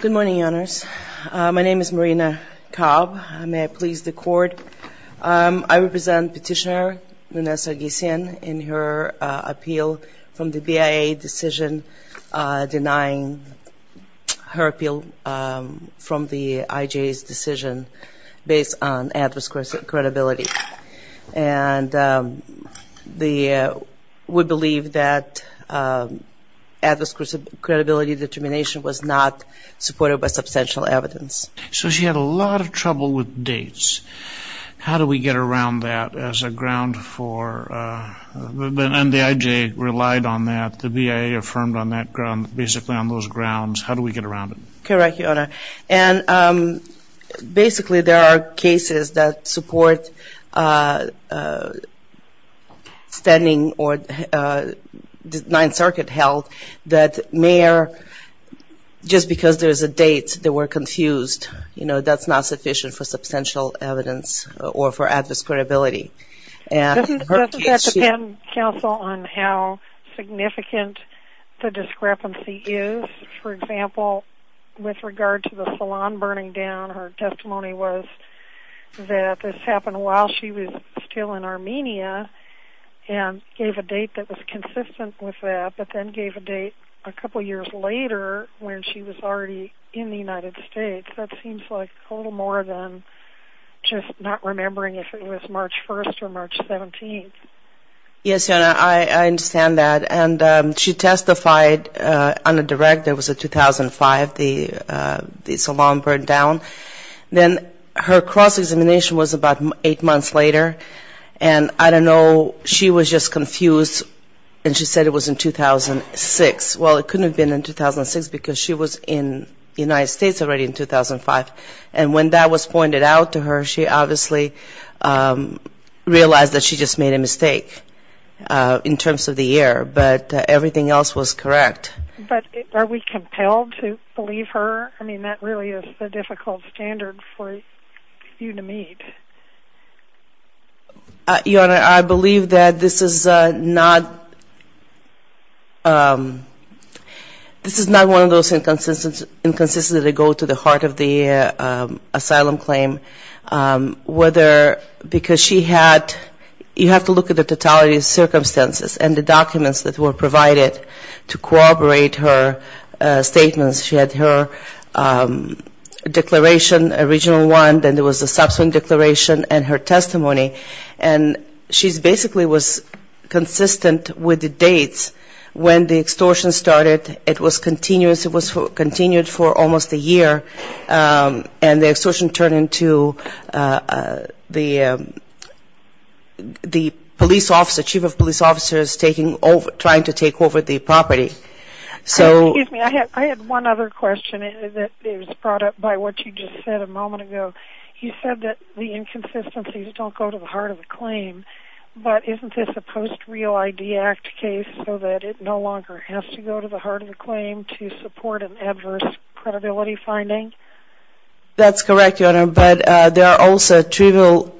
Good morning, Your Honors. My name is Marina Cobb. May I please the Court? I represent Petitioner Nune Sargsyan in her appeal from the BIA decision denying her appeal from the IJA's decision based on adverse credibility. And we believe that adverse credibility determination was not supported by substantial evidence. So she had a lot of trouble with dates. How do we get around that as a ground for and the IJA relied on that, the BIA affirmed on that ground, basically on those grounds. How do we get around it? Correct, Your Honor. And basically there are cases that support standing or the Ninth Circuit held that may or just because there's a date that we're confused, you know, that's not sufficient for substantial evidence or for adverse credibility. Doesn't that depend, counsel, on how significant the discrepancy is? For example, with regard to the salon burning down, her testimony was that this happened while she was still in Armenia and gave a date that was consistent with that, but then gave a date a couple years later when she was already in the United States. That seems like a little more than just not remembering if it was March 1st or March 17th. Yes, Your Honor, I understand that. And she testified on a direct, it was a 2005, the salon burned down. Then her cross-examination was later. And I don't know, she was just confused and she said it was in 2006. Well, it couldn't have been in 2006 because she was in the United States already in 2005. And when that was pointed out to her, she obviously realized that she just made a mistake in terms of the year, but everything else was correct. But are we compelled to believe her? I mean, that really is a difficult standard for you to meet. Your Honor, I believe that this is not this is not one of those inconsistencies that go to the heart of the asylum claim. Whether, because she had, you have to look at the totality of the documents that were provided to corroborate her statements. She had her declaration, original one, then there was a subsequent declaration, and her testimony. And she basically was consistent with the dates when the extortion started. It was continuous. It was continued for almost a year. And the police officer, chief of police officers, trying to take over the property. Excuse me, I had one other question that was brought up by what you just said a moment ago. You said that the inconsistencies don't go to the heart of the claim. But isn't this a post-real ID Act case so that it no longer has to go to the heart of the claim to support an adverse credibility finding? That's correct, Your Honor. But there are also trivial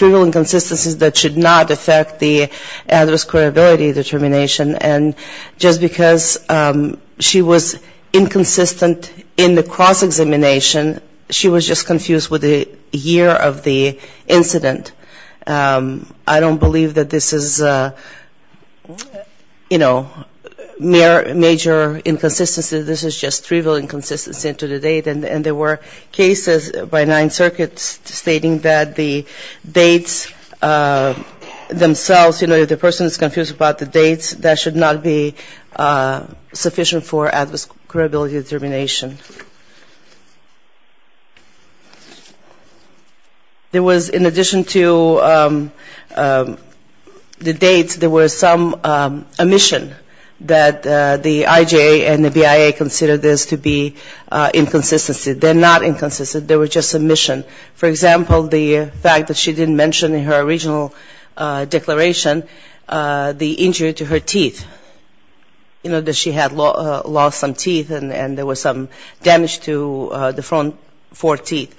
inconsistencies that should not affect the adverse credibility determination. And just because she was inconsistent in the cross-examination, she was just confused with the year of the incident. I don't believe that this is, you know, major inconsistencies. This is just trivial inconsistencies to the date. And there were cases by Ninth Circuit stating that the dates themselves, you know, if the person is confused about the dates, that should not be sufficient for adverse credibility determination. There was, in addition to the dates, there was some omission that the IJA and the BIA considered this to be inconsistencies. They're not inconsistencies, they were just omissions. For example, the fact that she didn't mention in her original declaration the injury to her teeth, you know, that she had lost some damage to the front four teeth.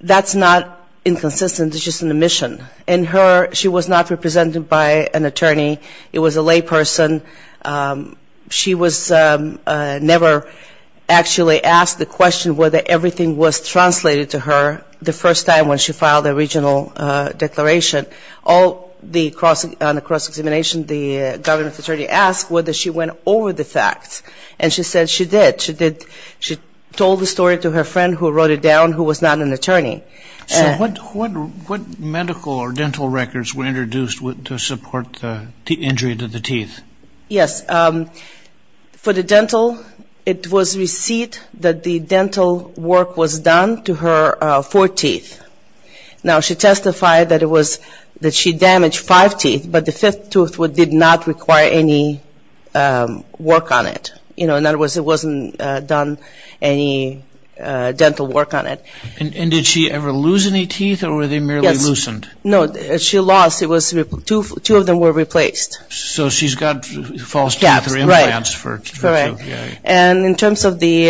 That's not inconsistent, it's just an omission. In her, she was not represented by an attorney. It was a layperson. She was never actually asked the question whether everything was translated to her the first time when she filed the original declaration. On the cross-examination, the government attorney asked whether she went over the facts. And she said she did. She told the story to her friend who wrote it down who was not an attorney. So what medical or dental records were introduced to support the injury to the teeth? Yes. For the dental, it was received that the dental work was done to her four teeth. Now, she testified that she damaged five teeth, but the fifth tooth did not require any work on it. In other words, it wasn't done any dental work on it. And did she ever lose any teeth or were they merely loosened? No, she lost. Two of them were replaced. So she's got false teeth or implants. Correct. And in terms of the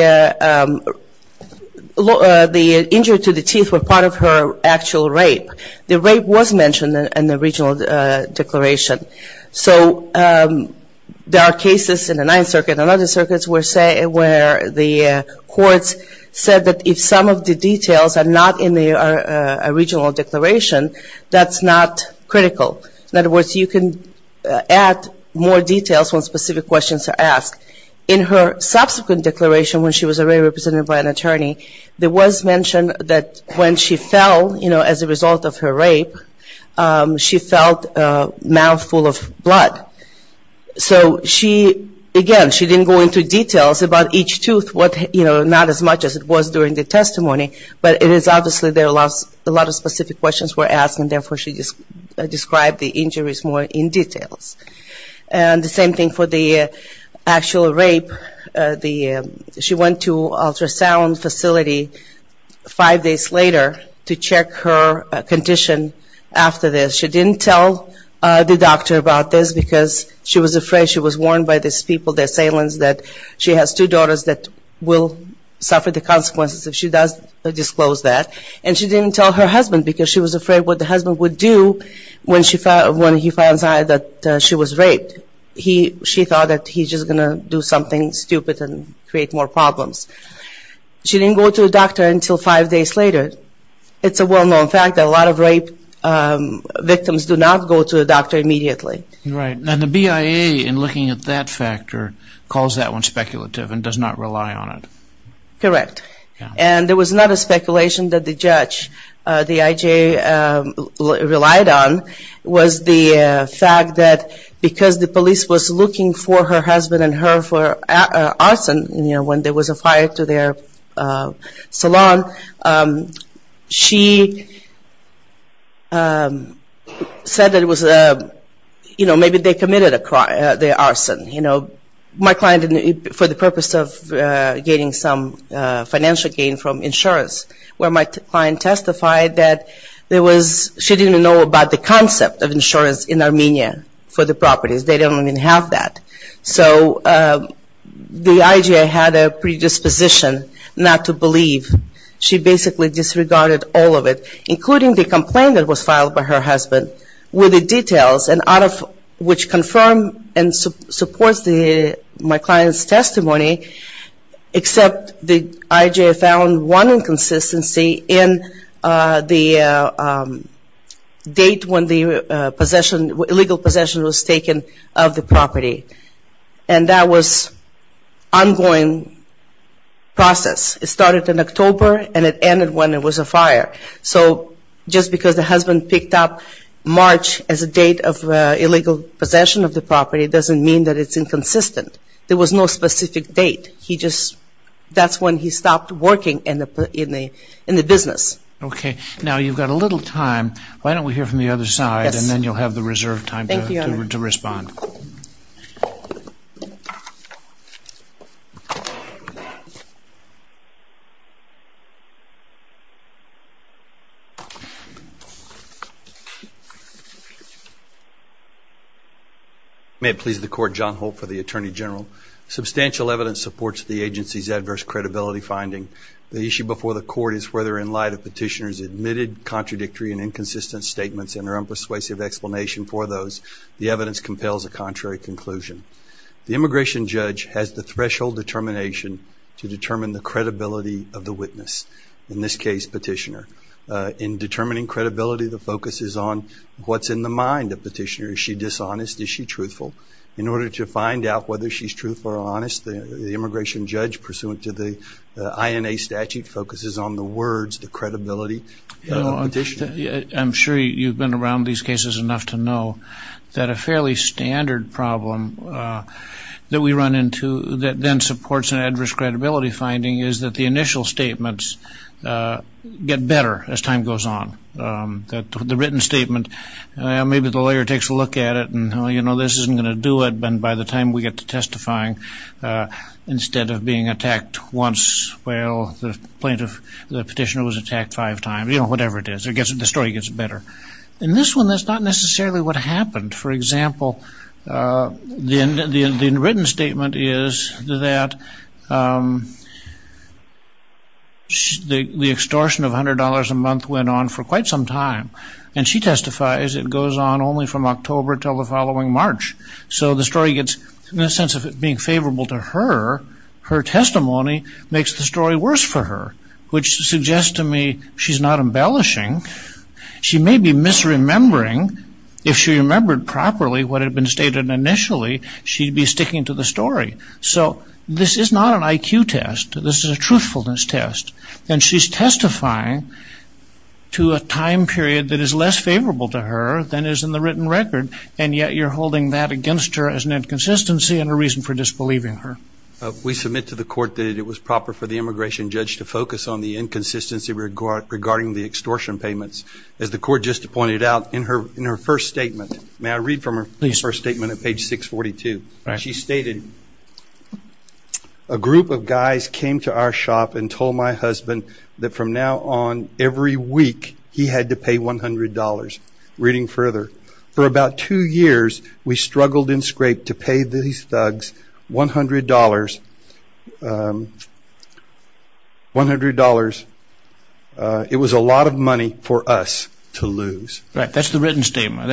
injury to the teeth were part of her actual rape. The rape was mentioned in the original declaration. So there are cases in the Ninth Circuit and other circuits where the courts said that if some of the details are not in the original declaration, that's not critical. In other words, you can add more details when specific questions are asked. In her subsequent declaration when she was already represented by an attorney, there was mention that when she fell as a result of her rape, she felt a mouth full of blood. So she, again, she didn't go into details about each tooth, not as much as it was during the testimony, but it is obvious that a lot of specific questions were asked and therefore she described the injuries more in detail. And the same thing for the actual rape. She went to an ultrasound facility five days later to check her condition after this. She didn't tell the doctor about it because she was afraid she was warned by these people, the assailants, that she has two daughters that will suffer the consequences if she does disclose that. And she didn't tell her husband because she was afraid what the husband would do when he finds out that she was raped. She thought that he's just going to do something stupid and create more problems. She didn't go to a doctor until five days later. It's a well-known fact that a lot of rape victims do not go to a doctor immediately. Right. And the BIA, in looking at that factor, calls that one speculative and does not rely on it. Correct. And it was not a speculation that the judge, the IJ, relied on. It was the fact that because the police was looking for her husband and her for arson, when there was a fire to their salon, she said that it was, you know, maybe they committed the arson. You know, my client, for the purpose of getting some financial gain from insurance, where my client testified that there was, she didn't know about the concept of insurance in Armenia for the properties. They don't even have that. So the IJ had a predisposition not to believe. She basically disregarded all of it, including the complaint that was filed by her husband, with the details, and out of which confirmed and supports my client's testimony, except the IJ found one inconsistency in the date when the illegal possession was taken of the property. And that was an ongoing process. It started in October and it ended when there was a fire. So just because the husband picked up March as a date of illegal possession of the property doesn't mean that it's inconsistent. There was no specific date. He just, that's when he stopped working in the business. Okay. Now you've got a little time. Why don't we hear from the other side and then you'll have the reserved time to respond. May it please the court, John Holt for the Attorney General. Substantial evidence supports the agency's adverse credibility finding. The issue before the court is whether in light of petitioners' admitted contradictory and inconsistent statements and her unpersuasive explanation for those, the evidence compels a contrary conclusion. The immigration judge has the threshold determination to determine the credibility of the witness, in this case, petitioner. In determining credibility, the focus is on what's in the mind of petitioner. Is she dishonest? Is she truthful? In order to find out whether she's truthful or honest, the immigration judge, pursuant to the INA statute, focuses on the credibility of the petitioner. I'm sure you've been around these cases enough to know that a fairly standard problem that we run into that then supports an adverse credibility finding is that the initial statements get better as time goes on. The written statement, maybe the lawyer takes a look at it and, oh, you know, this isn't going to do it. And by the time we get to testifying, instead of being attacked once, well, the plaintiff, the petitioner was attacked five times. You know, whatever it is, the story gets better. In this one, that's not necessarily what happened. For example, the written statement is that the extortion of $100 a month went on for quite some time. And she testifies it goes on only from October until the following March. So the story gets, in a sense of it being favorable to her, her testimony makes the story worse for her, which suggests to me she's not embellishing. She may be misremembering. If she remembered properly what had been stated initially, she'd be sticking to the story. So this is not an IQ test. This is a truthfulness test. And she's testifying to a time period that is less favorable to her than is in the written record, and yet you're holding that against her as an inconsistency and a reason for disbelieving her. We submit to the court that it was proper for the immigration judge to focus on the inconsistency regarding the extortion payments. As the court just pointed out in her first statement, may I read from her first statement at page 642? She stated, a group of guys came to our shop and told my husband that from now on every week he had to pay $100. Reading further, for about two years we struggled and scraped to pay these thugs $100. It was a lot of money for us to lose. Right, that's the written statement.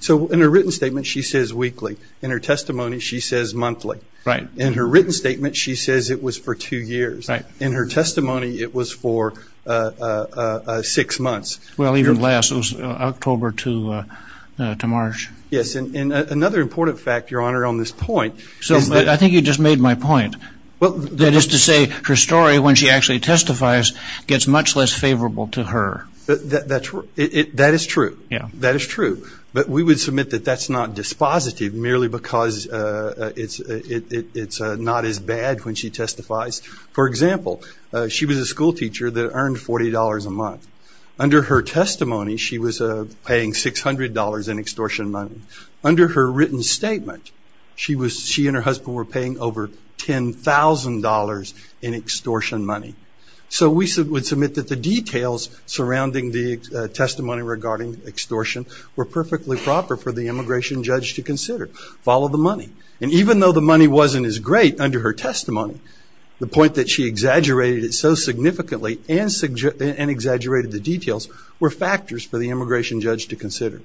So in her written statement she says weekly. In her testimony she says monthly. Right. In her written statement she says it was for two years. Right. In her testimony it was for six months. Well, even less. It was October to March. Yes, and another important fact, Your Honor, on this point is that... I think you just made my point. That is to say, her story, when she actually testifies, gets much less favorable to her. That is true. That is true, but we would submit that that's not dispositive merely because it's not as bad when she testifies. For example, she was a school teacher that earned $40 a month. Under her testimony she was paying $600 in extortion money. Under her written statement she and her husband were paying over $10,000 in extortion money. So we would submit that the details surrounding the testimony regarding extortion were perfectly proper for the immigration judge to consider. Follow the money. And even though the money wasn't as great under her testimony, the point that she exaggerated it so significantly and exaggerated the details were factors for the immigration judge to consider.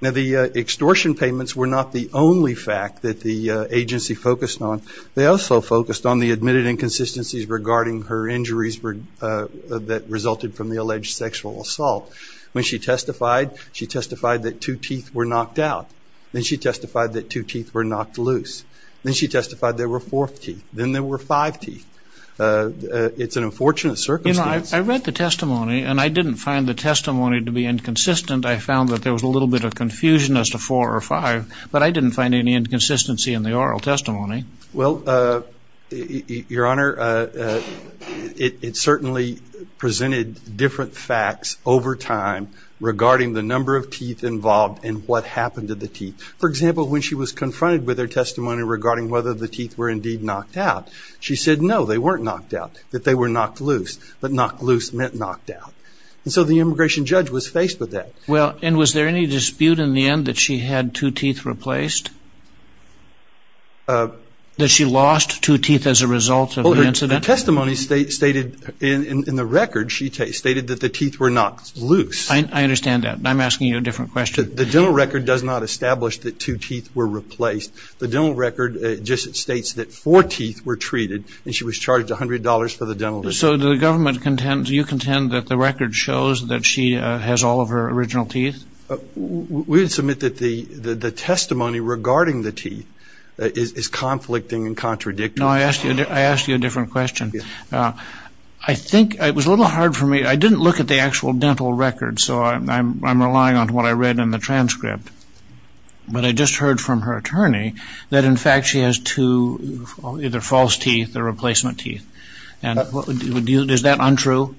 Now the extortion payments were not the only fact that the agency focused on. They also focused on the admitted inconsistencies regarding her injuries that resulted from the alleged sexual assault. When she testified, she testified that two teeth were knocked out. Then she testified that two teeth were knocked loose. Then she testified there were four teeth. Then there were five teeth. It's an unfortunate circumstance. You know, I read the testimony, and I didn't find the testimony to be inconsistent. I found that there was a little bit of confusion as to four or five, but I didn't find any inconsistency in the oral testimony. Well, Your Honor, it certainly presented different facts over time regarding the number of teeth involved and what happened to the teeth. For example, when she was confronted with her testimony regarding whether the teeth were indeed knocked out, she said no, they weren't knocked out, that they were knocked loose. But knocked loose meant knocked out. And so the immigration judge was faced with that. Well, and was there any dispute in the end that she had two teeth replaced? That she lost two teeth as a result of the incident? The testimony stated in the record, she stated that the teeth were knocked loose. I understand that. I'm asking you a different question. The dental record does not establish that two teeth were replaced. The dental record just states that four teeth were treated, and she was charged $100 for the dental treatment. So the government contends, you contend that the record shows that she has all of her original teeth? We would submit that the testimony regarding the teeth is conflicting and contradictory. No, I asked you a different question. I think it was a little hard for me. I didn't look at the actual dental record, so I'm relying on what I read in the transcript. But I just heard from her attorney that, in fact, she has two either false teeth or replacement teeth. Is that untrue?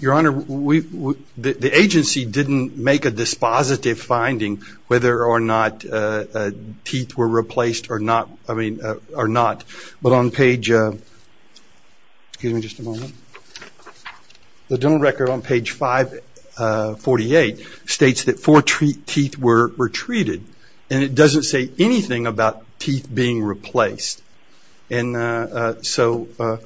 Your Honor, the agency didn't make a dispositive finding whether or not teeth were replaced or not. But on page, excuse me just a moment, the dental record on page 548 states that four teeth were treated, and it doesn't say anything about teeth being replaced. And so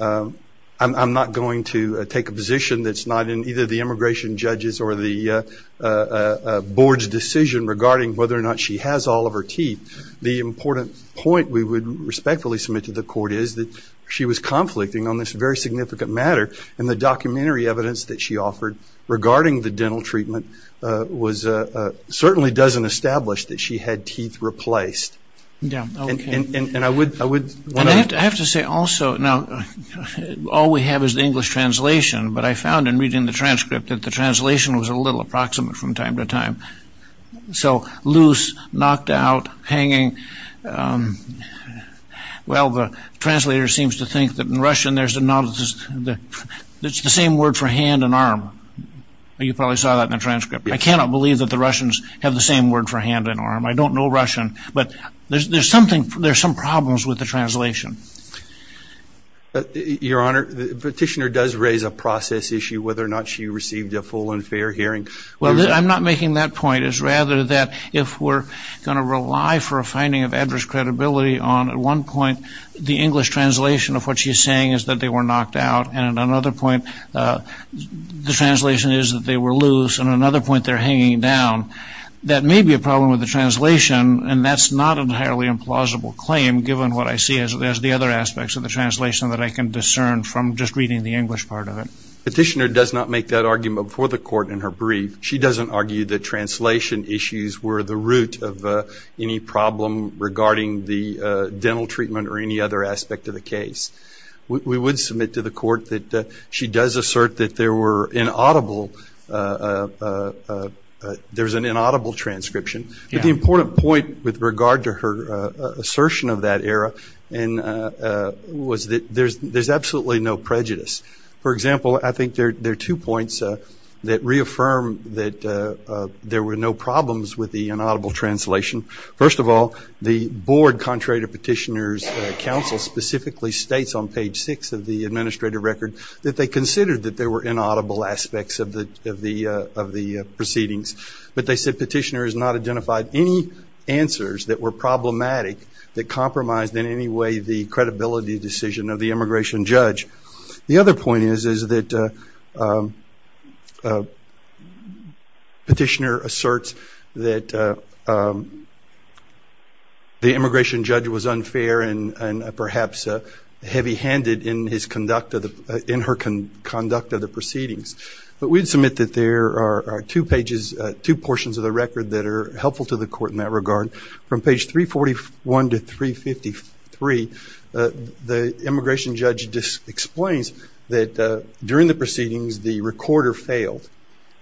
I'm not going to take a position that's not in either the immigration judge's or the board's decision regarding whether or not she has all of her teeth. The important point we would respectfully submit to the court is that she was conflicting on this very significant matter, and the documentary evidence that she offered regarding the dental treatment certainly doesn't establish that she had teeth replaced. I have to say also, now, all we have is the English translation, but I found in reading the transcript that the translation was a little approximate from time to time. So loose, knocked out, hanging. Well, the translator seems to think that in Russian there's the same word for hand and arm. You probably saw that in the transcript. I cannot believe that the Russians have the same word for hand and arm. I don't know Russian, but there's some problems with the translation. Your Honor, the petitioner does raise a process issue whether or not she received a full and fair hearing. Well, I'm not making that point. It's rather that if we're going to rely for a finding of adverse credibility on, at one point, the English translation of what she's saying is that they were knocked out, and at another point the translation is that they were loose, and at another point they're hanging down, that may be a problem with the translation, and that's not an entirely implausible claim given what I see as the other aspects of the translation that I can discern from just reading the English part of it. Petitioner does not make that argument before the court in her brief. She doesn't argue that translation issues were the root of any problem regarding the dental treatment or any other aspect of the case. We would submit to the court that she does assert that there were inaudible, there's an inaudible transcription. But the important point with regard to her assertion of that error was that there's absolutely no prejudice. For example, I think there are two points that reaffirm that there were no problems with the inaudible translation. First of all, the board, contrary to petitioner's counsel, specifically states on page six of the administrative record that they considered that there were inaudible aspects of the proceedings. But they said petitioner has not identified any answers that were problematic that compromised in any way the credibility decision of the immigration judge. The other point is that petitioner asserts that the immigration judge was unfair and perhaps heavy-handed in her conduct of the proceedings. But we would submit that there are two portions of the record that are helpful to the court in that regard. From page 341 to 353, the immigration judge just explains that during the proceedings, the recorder failed,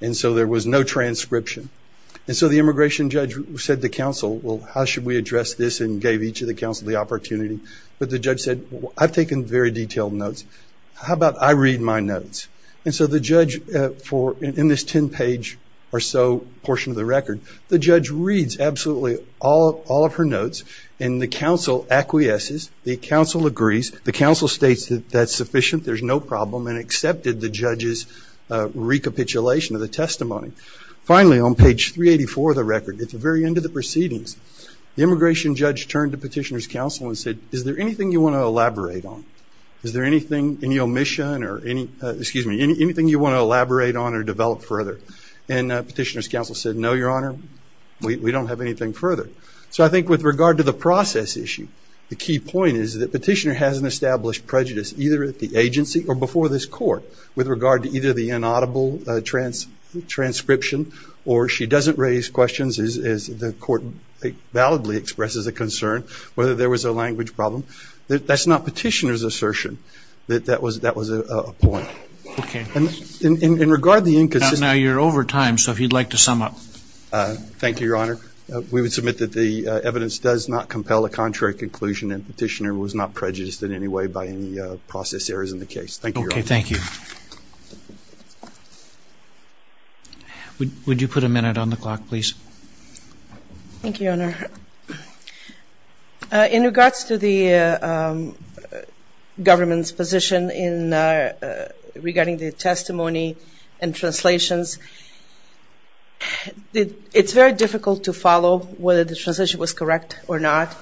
and so there was no transcription. And so the immigration judge said to counsel, well, how should we address this, and gave each of the counsel the opportunity. But the judge said, I've taken very detailed notes. How about I read my notes? And so the judge, in this 10-page or so portion of the record, the judge reads absolutely all of her notes, and the counsel acquiesces. The counsel agrees. The counsel states that that's sufficient, there's no problem, and accepted the judge's recapitulation of the testimony. Finally, on page 384 of the record, at the very end of the proceedings, the immigration judge turned to petitioner's counsel and said, is there anything you want to elaborate on? Is there anything, any omission or any, excuse me, anything you want to elaborate on or develop further? And petitioner's counsel said, no, your honor, we don't have anything further. So I think with regard to the process issue, the key point is that petitioner has an established prejudice, either at the agency or before this court, with regard to either the inaudible transcription or she doesn't raise questions as the court validly expresses a concern, whether there was a language problem. That's not petitioner's assertion. That was a point. Okay. And in regard to the inconsistency. Now you're over time, so if you'd like to sum up. Thank you, your honor. We would submit that the evidence does not compel a contrary conclusion and petitioner was not prejudiced in any way by any process errors in the case. Thank you, your honor. Okay, thank you. Would you put a minute on the clock, please? Thank you, your honor. In regards to the government's position in regarding the testimony and translations, it's very difficult to follow whether the translation was correct or not,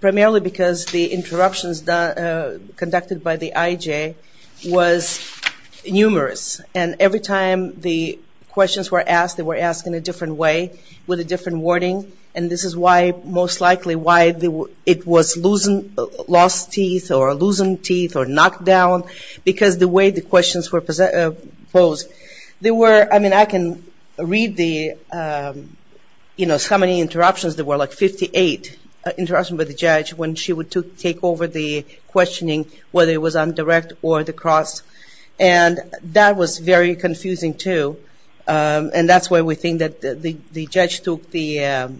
primarily because the interruptions conducted by the IJ was numerous. And every time the questions were asked, they were asked in a different way with a different wording, and this is why most likely why it was lost teeth or loosened teeth or knocked down, because the way the questions were posed. I mean, I can read the, you know, so many interruptions. There were like 58 interruptions by the judge when she would take over the questioning, whether it was on direct or the cross. And that was very confusing, too. And that's why we think that the judge took the,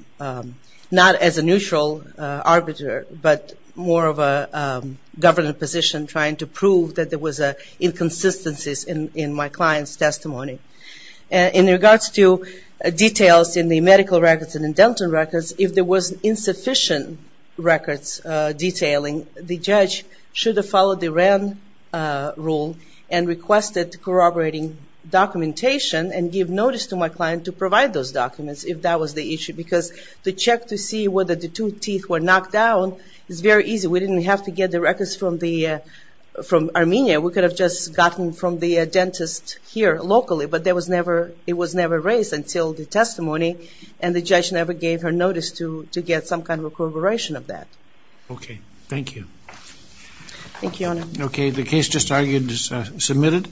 not as a neutral arbiter, but more of a government position trying to prove that there was inconsistencies in my client's testimony. In regards to details in the medical records and in dental records, if there was insufficient records detailing, the judge should have followed the Wren rule and requested corroborating documentation and give notice to my client to provide those documents if that was the issue, because to check to see whether the two teeth were knocked down is very easy. We didn't have to get the records from Armenia. We could have just gotten from the dentist here locally, but it was never raised until the testimony, and the judge never gave her notice to get some kind of corroboration of that. Okay. Thank you. Thank you, Your Honor. Okay. The case just argued is submitted.